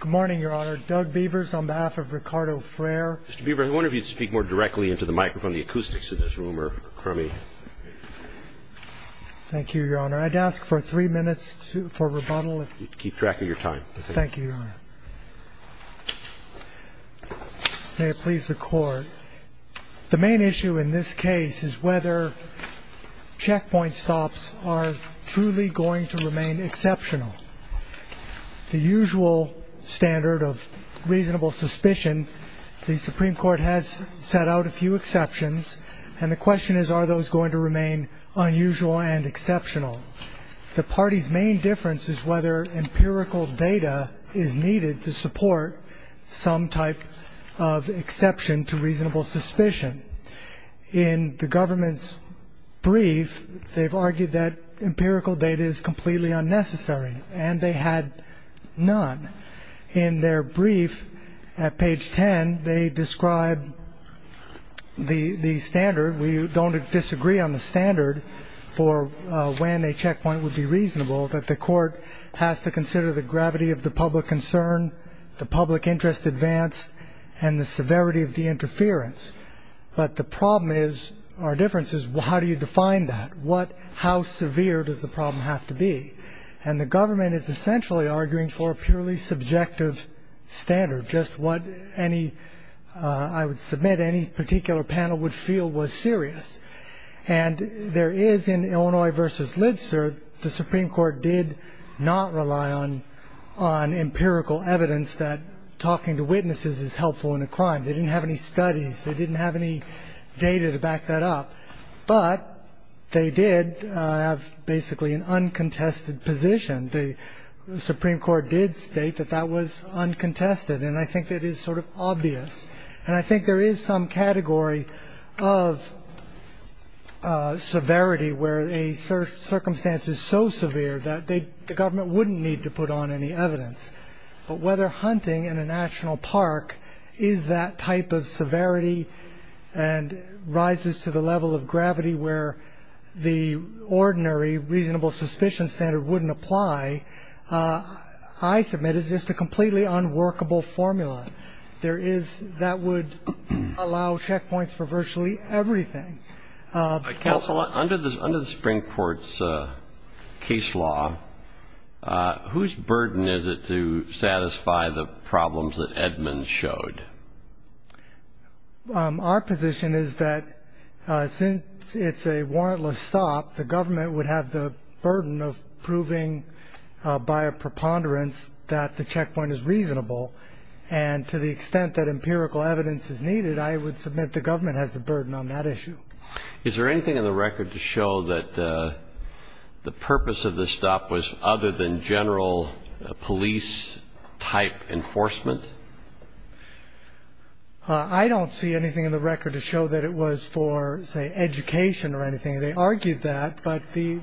Good morning, Your Honor. Doug Beavers on behalf of Ricardo Fraire. Mr. Beavers, I wonder if you'd speak more directly into the microphone. The acoustics in this room are crummy. Thank you, Your Honor. I'd ask for three minutes for rebuttal. Keep track of your time. Thank you, Your Honor. May it please the Court. The main issue in this case is whether checkpoint stops are truly going to remain exceptional. The usual standard of reasonable suspicion, the Supreme Court has set out a few exceptions, and the question is, are those going to remain unusual and exceptional? The party's main difference is whether empirical data is needed to support some type of exception to reasonable suspicion. In the government's brief, they've argued that empirical data is completely unnecessary, and they had none. In their brief at page 10, they describe the standard. We don't disagree on the standard for when a checkpoint would be reasonable, that the Court has to consider the gravity of the public concern, the public interest advanced, and the severity of the interference. But the problem is, our difference is, how do you define that? How severe does the problem have to be? And the government is essentially arguing for a purely subjective standard, just what I would submit any particular panel would feel was serious. And there is, in Illinois v. Litzer, the Supreme Court did not rely on empirical evidence that talking to witnesses is helpful in a crime. They didn't have any studies. They didn't have any data to back that up. But they did have basically an uncontested position. The Supreme Court did state that that was uncontested, and I think that is sort of obvious. And I think there is some category of severity where a circumstance is so severe that the government wouldn't need to put on any evidence. But whether hunting in a national park is that type of severity and rises to the level of gravity where the ordinary reasonable suspicion standard wouldn't apply, I submit is just a completely unworkable formula. There is, that would allow checkpoints for virtually everything. Counsel, under the Supreme Court's case law, whose burden is it to satisfy the problems that Edmonds showed? Our position is that since it's a warrantless stop, the government would have the burden of proving by a preponderance that the checkpoint is reasonable. And to the extent that empirical evidence is needed, I would submit the government has the burden on that issue. Is there anything in the record to show that the purpose of the stop was other than general police-type enforcement? I don't see anything in the record to show that it was for, say, education or anything. They argued that, but the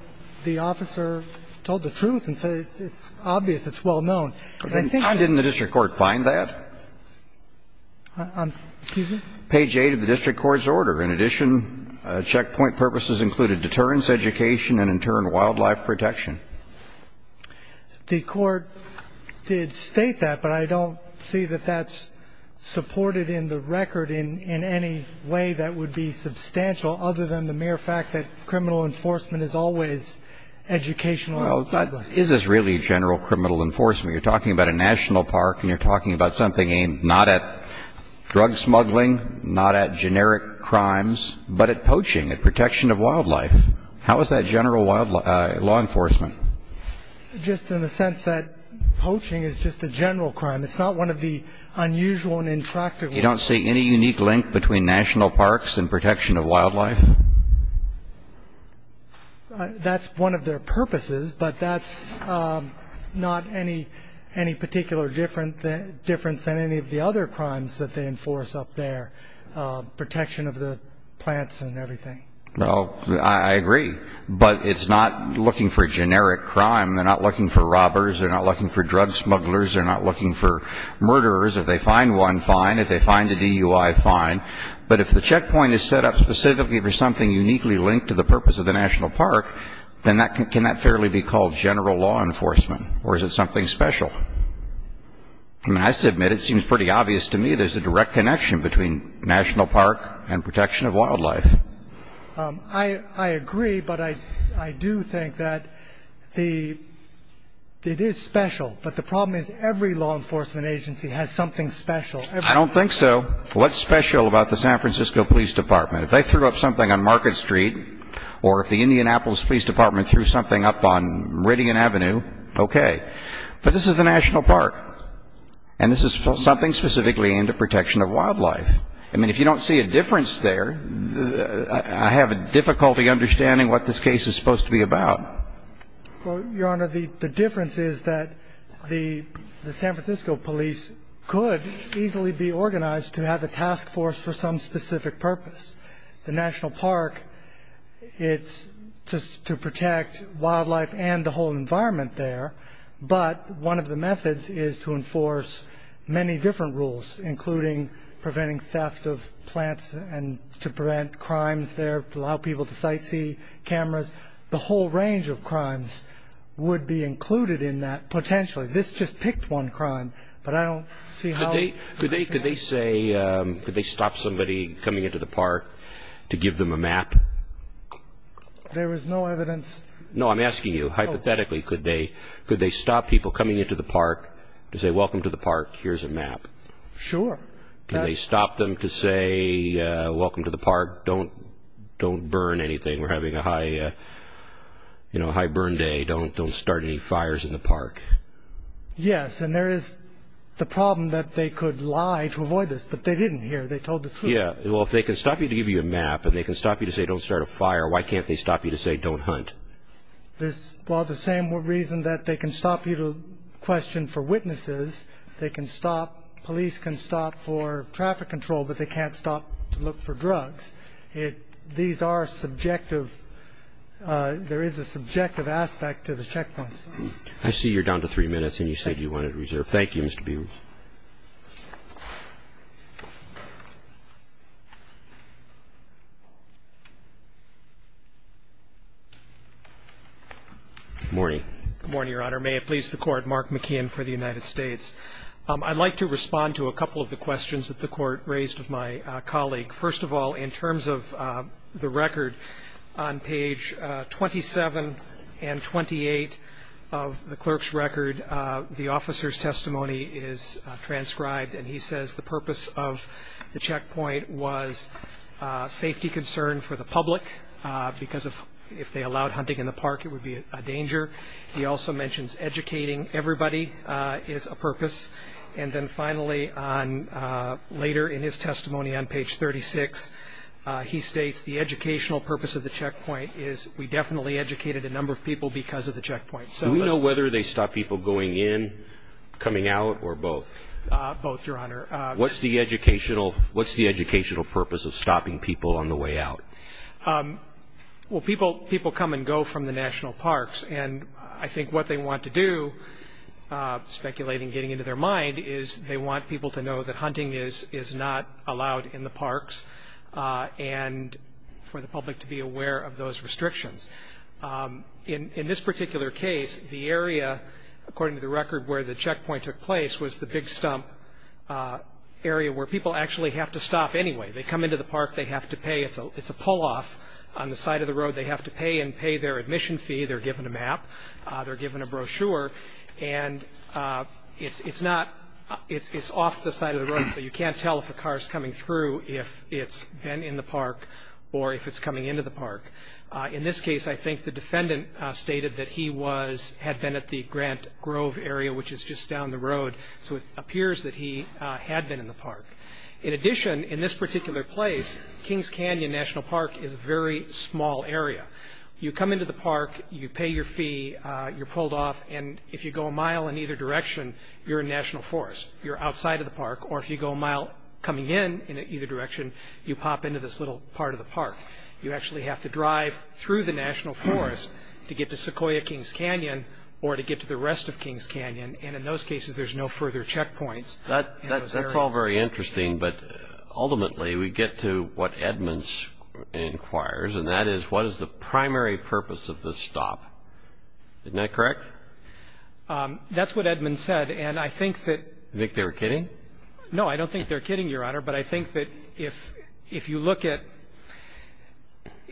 officer told the truth and said it's obvious, it's well known. Didn't the district court find that? Excuse me? Page 8 of the district court's order. In addition, checkpoint purposes included deterrence, education and, in turn, wildlife protection. The court did state that, but I don't see that that's supported in the record in any way that would be substantial, other than the mere fact that criminal enforcement is always educational and public. Well, is this really general criminal enforcement? You're talking about a national park and you're talking about something aimed not at drug smuggling, not at generic crimes, but at poaching, at protection of wildlife. How is that general law enforcement? Just in the sense that poaching is just a general crime. It's not one of the unusual and intractable. You don't see any unique link between national parks and protection of wildlife? That's one of their purposes, but that's not any particular difference than any of the other crimes that they enforce up there, protection of the plants and everything. Well, I agree, but it's not looking for generic crime. They're not looking for robbers. They're not looking for drug smugglers. They're not looking for murderers. If they find one, fine. If they find a DUI, fine. But if the checkpoint is set up specifically for something uniquely linked to the purpose of the national park, then can that fairly be called general law enforcement, or is it something special? I mean, I have to admit, it seems pretty obvious to me there's a direct connection between national park and protection of wildlife. I agree, but I do think that it is special. But the problem is every law enforcement agency has something special. I don't think so. What's special about the San Francisco Police Department? If they threw up something on Market Street or if the Indianapolis Police Department threw something up on Meridian Avenue, okay. But this is the national park, and this is something specifically aimed at protection of wildlife. I mean, if you don't see a difference there, I have difficulty understanding what this case is supposed to be about. Well, Your Honor, the difference is that the San Francisco police could easily be organized to have a task force for some specific purpose. The national park, it's just to protect wildlife and the whole environment there, but one of the methods is to enforce many different rules, including preventing theft of plants and to prevent crimes there, allow people to sightsee cameras. The whole range of crimes would be included in that potentially. This just picked one crime, but I don't see how it could be. Could they stop somebody coming into the park to give them a map? There was no evidence. No, I'm asking you, hypothetically, could they stop people coming into the park to say, welcome to the park, here's a map? Sure. Could they stop them to say, welcome to the park, don't burn anything, we're having a high burn day, don't start any fires in the park? Yes, and there is the problem that they could lie to avoid this, but they didn't here. They told the truth. Yeah, well, if they can stop you to give you a map and they can stop you to say don't start a fire, why can't they stop you to say don't hunt? Well, the same reason that they can stop you to question for witnesses, they can stop, police can stop for traffic control, but they can't stop to look for drugs. These are subjective. There is a subjective aspect to the checkpoints. I see you're down to three minutes and you said you wanted to reserve. Thank you, Mr. Biewald. Good morning. Good morning, Your Honor. May it please the Court, Mark McKeon for the United States. I'd like to respond to a couple of the questions that the Court raised with my colleague. First of all, in terms of the record, on page 27 and 28 of the clerk's record, the officer's testimony is transcribed, and he says the purpose of the checkpoint was safety concern for the public because if they allowed hunting in the park it would be a danger. He also mentions educating everybody is a purpose. And then finally, later in his testimony on page 36, he states the educational purpose of the checkpoint is we definitely educated a number of people because of the checkpoint. Do we know whether they stop people going in, coming out, or both? Both, Your Honor. What's the educational purpose of stopping people on the way out? Well, people come and go from the national parks, and I think what they want to do, speculating, getting into their mind, is they want people to know that hunting is not allowed in the parks and for the public to be aware of those restrictions. In this particular case, the area, according to the record, where the checkpoint took place was the big stump area where people actually have to stop anyway. They come into the park. They have to pay. It's a pull-off on the side of the road. They have to pay and pay their admission fee. They're given a map. They're given a brochure, and it's off the side of the road, so you can't tell if a car is coming through, if it's been in the park, or if it's coming into the park. In this case, I think the defendant stated that he had been at the Grant Grove area, which is just down the road, so it appears that he had been in the park. In addition, in this particular place, Kings Canyon National Park is a very small area. You come into the park. You pay your fee. You're pulled off, and if you go a mile in either direction, you're in National Forest. You're outside of the park, or if you go a mile coming in in either direction, you pop into this little part of the park. You actually have to drive through the National Forest to get to Sequoia Kings Canyon or to get to the rest of Kings Canyon, and in those cases, there's no further checkpoints. That's all very interesting, but ultimately we get to what Edmonds inquires, and that is, what is the primary purpose of this stop? Isn't that correct? That's what Edmonds said, and I think that You think they were kidding? No, I don't think they're kidding, Your Honor, but I think that if you look at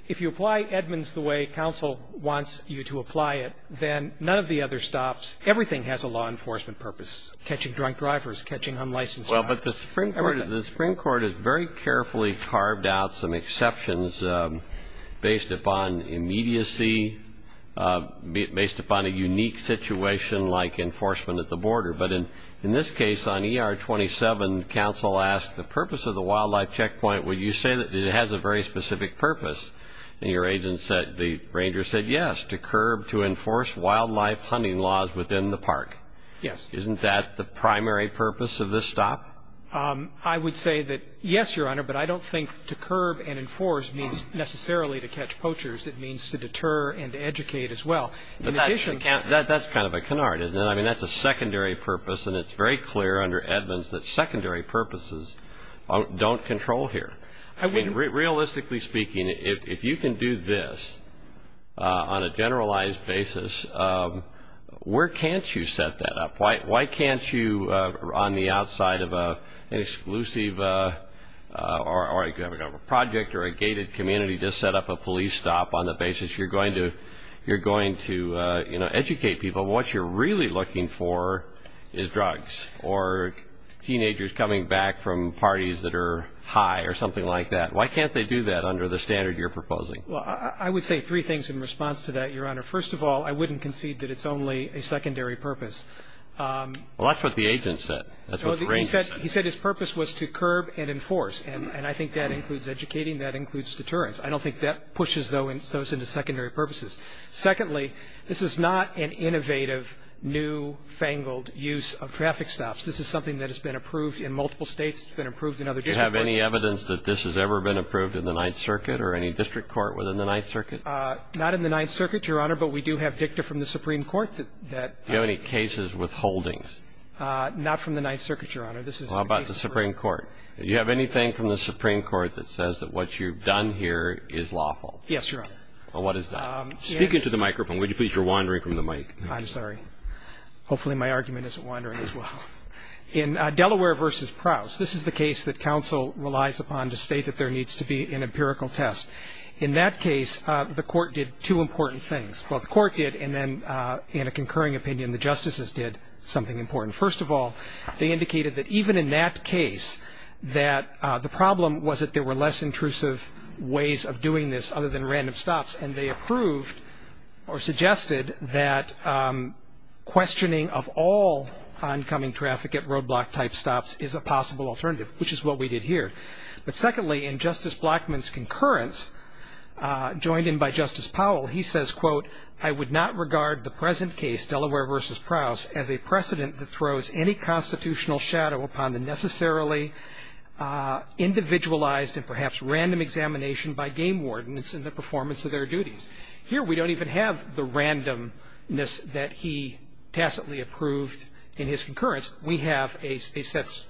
if you apply Edmonds the way counsel wants you to apply it, then none of the other stops, everything has a law enforcement purpose, catching drunk drivers, catching unlicensed drivers. Well, but the Supreme Court has very carefully carved out some exceptions based upon immediacy, based upon a unique situation like enforcement at the border, but in this case, on ER 27, counsel asked the purpose of the wildlife checkpoint. Well, you say that it has a very specific purpose, and your agent said, the ranger said, yes, to curb, to enforce wildlife hunting laws within the park. Yes. Isn't that the primary purpose of this stop? I would say that, yes, Your Honor, but I don't think to curb and enforce means necessarily to catch poachers. It means to deter and to educate as well. But that's kind of a canard, isn't it? I mean, that's a secondary purpose, and it's very clear under Edmonds that secondary purposes don't control here. Realistically speaking, if you can do this on a generalized basis, where can't you set that up? Why can't you, on the outside of an exclusive project or a gated community, just set up a police stop on the basis you're going to educate people? But what you're really looking for is drugs or teenagers coming back from parties that are high or something like that. Why can't they do that under the standard you're proposing? Well, I would say three things in response to that, Your Honor. First of all, I wouldn't concede that it's only a secondary purpose. Well, that's what the agent said. That's what the ranger said. He said his purpose was to curb and enforce, and I think that includes educating. That includes deterrence. I don't think that pushes those into secondary purposes. Secondly, this is not an innovative, new, fangled use of traffic stops. This is something that has been approved in multiple states. It's been approved in other district courts. Do you have any evidence that this has ever been approved in the Ninth Circuit or any district court within the Ninth Circuit? Not in the Ninth Circuit, Your Honor, but we do have dicta from the Supreme Court that ---- Do you have any cases with holdings? Not from the Ninth Circuit, Your Honor. How about the Supreme Court? Do you have anything from the Supreme Court that says that what you've done here is lawful? Yes, Your Honor. Well, what is that? Speak into the microphone. Would you please? You're wandering from the mic. I'm sorry. Hopefully my argument isn't wandering as well. In Delaware v. Prowse, this is the case that counsel relies upon to state that there needs to be an empirical test. In that case, the court did two important things. Well, the court did, and then, in a concurring opinion, the justices did something important. First of all, they indicated that even in that case, the problem was that there were less intrusive ways of doing this other than random stops, and they approved or suggested that questioning of all oncoming traffic at roadblock-type stops is a possible alternative, which is what we did here. But secondly, in Justice Blackmun's concurrence, joined in by Justice Powell, he says, quote, I would not regard the present case, Delaware v. Prowse, as a precedent that throws any constitutional shadow upon the necessarily individualized and perhaps random examination by game wardens in the performance of their duties. Here we don't even have the randomness that he tacitly approved in his concurrence. We have a set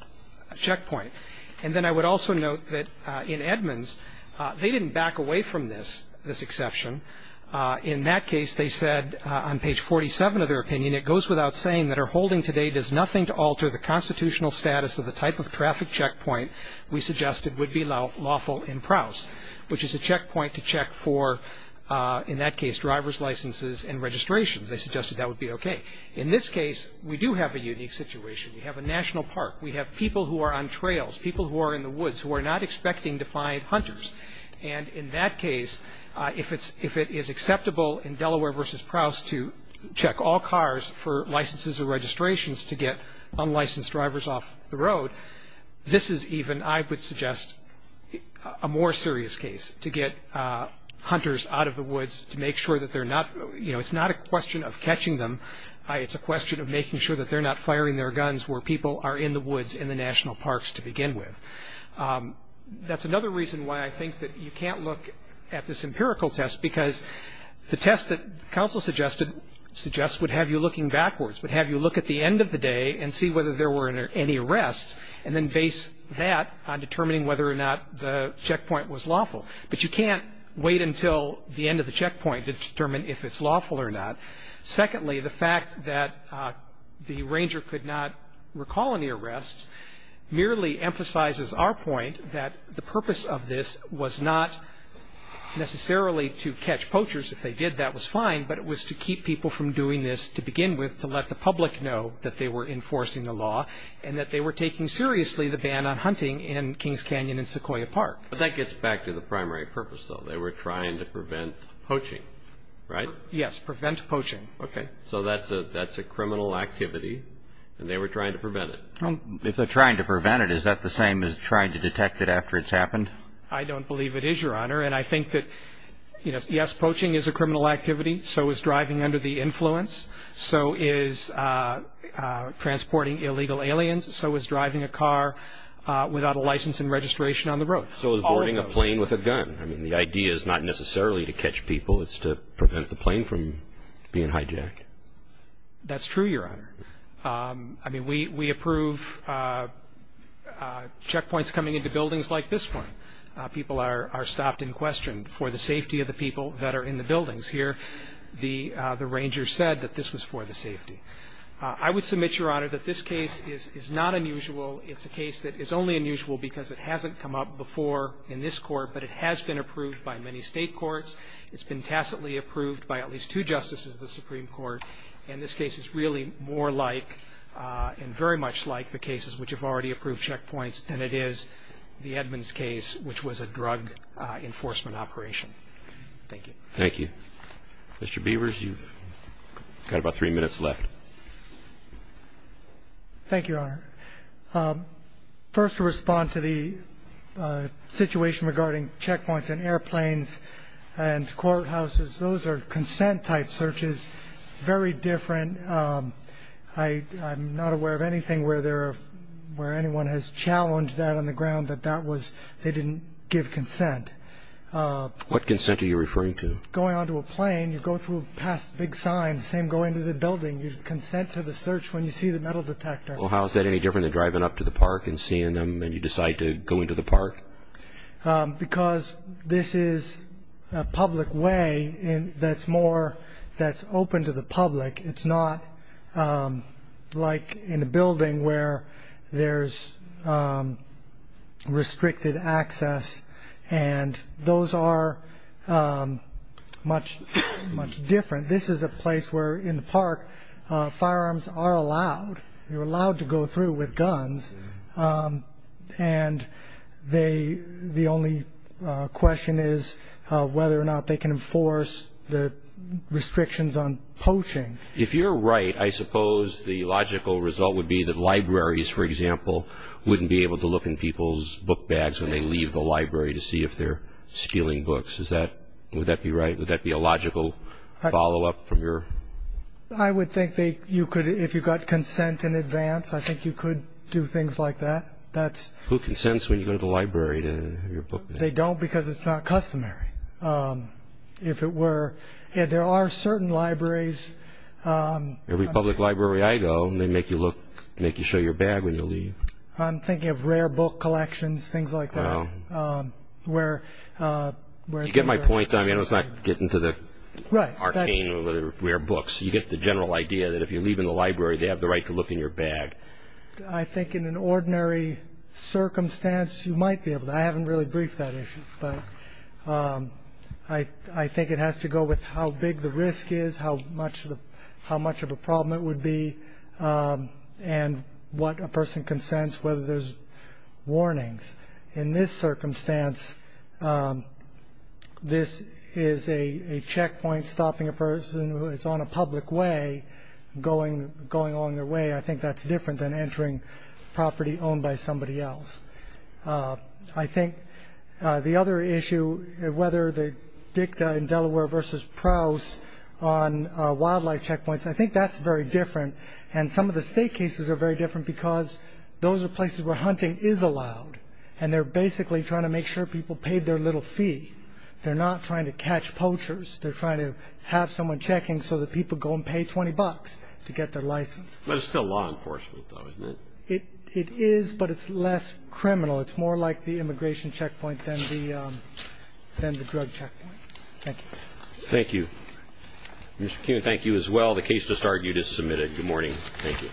checkpoint. And then I would also note that in Edmunds, they didn't back away from this, this exception. In that case, they said on page 47 of their opinion, it goes without saying that our holding today does nothing to alter the constitutional status of the type of traffic checkpoint we suggested would be lawful in Prowse, which is a checkpoint to check for, in that case, driver's licenses and registrations. They suggested that would be okay. In this case, we do have a unique situation. We have a national park. We have people who are on trails, people who are in the woods who are not expecting to find hunters. And in that case, if it is acceptable in Delaware v. Prowse to check all cars for licenses or registrations to get unlicensed drivers off the road, this is even, I would suggest, a more serious case to get hunters out of the woods to make sure that they're not, you know, it's not a question of catching them. It's a question of making sure that they're not firing their guns where people are in the woods in the national parks to begin with. That's another reason why I think that you can't look at this empirical test, because the test that counsel suggested suggests would have you looking backwards, would have you look at the end of the day and see whether there were any arrests, and then base that on determining whether or not the checkpoint was lawful. But you can't wait until the end of the checkpoint to determine if it's lawful or not. Secondly, the fact that the ranger could not recall any arrests merely emphasizes our point that the purpose of this was not necessarily to catch poachers. If they did, that was fine, but it was to keep people from doing this to begin with, to let the public know that they were enforcing the law and that they were taking seriously the ban on hunting in Kings Canyon and Sequoia Park. But that gets back to the primary purpose, though. They were trying to prevent poaching, right? Yes, prevent poaching. Okay. So that's a criminal activity, and they were trying to prevent it. If they're trying to prevent it, is that the same as trying to detect it after it's happened? I don't believe it is, Your Honor. And I think that, yes, poaching is a criminal activity. So is driving under the influence. So is transporting illegal aliens. So is driving a car without a license and registration on the road. So is boarding a plane with a gun. I mean, the idea is not necessarily to catch people. It's to prevent the plane from being hijacked. That's true, Your Honor. I mean, we approve checkpoints coming into buildings like this one. People are stopped and questioned for the safety of the people that are in the buildings here. The ranger said that this was for the safety. I would submit, Your Honor, that this case is not unusual. It's a case that is only unusual because it hasn't come up before in this court, but it has been approved by many state courts. It's been tacitly approved by at least two justices of the Supreme Court. And this case is really more like and very much like the cases which have already approved checkpoints, and it is the Edmonds case, which was a drug enforcement operation. Thank you. Thank you. Mr. Beavers, you've got about three minutes left. Thank you, Your Honor. First, to respond to the situation regarding checkpoints and airplanes and courthouses, those are consent-type searches, very different. I'm not aware of anything where anyone has challenged that on the ground that that was they didn't give consent. What consent are you referring to? Going onto a plane, you go through past big signs, same going to the building. You consent to the search when you see the metal detector. Well, how is that any different than driving up to the park and seeing them and you decide to go into the park? Because this is a public way that's more that's open to the public. It's not like in a building where there's restricted access, and those are much different. This is a place where, in the park, firearms are allowed. You're allowed to go through with guns, and the only question is whether or not they can enforce the restrictions on poaching. If you're right, I suppose the logical result would be that libraries, for example, wouldn't be able to look in people's book bags when they leave the library to see if they're stealing books. Would that be right? Would that be a logical follow-up from your? I would think if you got consent in advance, I think you could do things like that. Who consents when you go to the library to have your book bag? They don't because it's not customary. If it were, there are certain libraries. Every public library I go, they make you show your bag when you leave. I'm thinking of rare book collections, things like that. You get my point. It's not getting to the arcane or the rare books. You get the general idea that if you leave in the library, they have the right to look in your bag. I think in an ordinary circumstance, you might be able to. I haven't really briefed that issue, but I think it has to go with how big the risk is, how much of a problem it would be, and what a person consents, whether there's warnings. In this circumstance, this is a checkpoint stopping a person who is on a public way going along their way. I think that's different than entering property owned by somebody else. I think the other issue, whether the dicta in Delaware versus Prowse on wildlife checkpoints, I think that's very different. And some of the State cases are very different because those are places where hunting is allowed, and they're basically trying to make sure people pay their little fee. They're not trying to catch poachers. They're trying to have someone checking so that people go and pay 20 bucks to get their license. But it's still law enforcement, though, isn't it? It is, but it's less criminal. It's more like the immigration checkpoint than the drug checkpoint. Thank you. Thank you. Mr. Kuehn, thank you as well. The case just argued is submitted. Good morning. Thank you.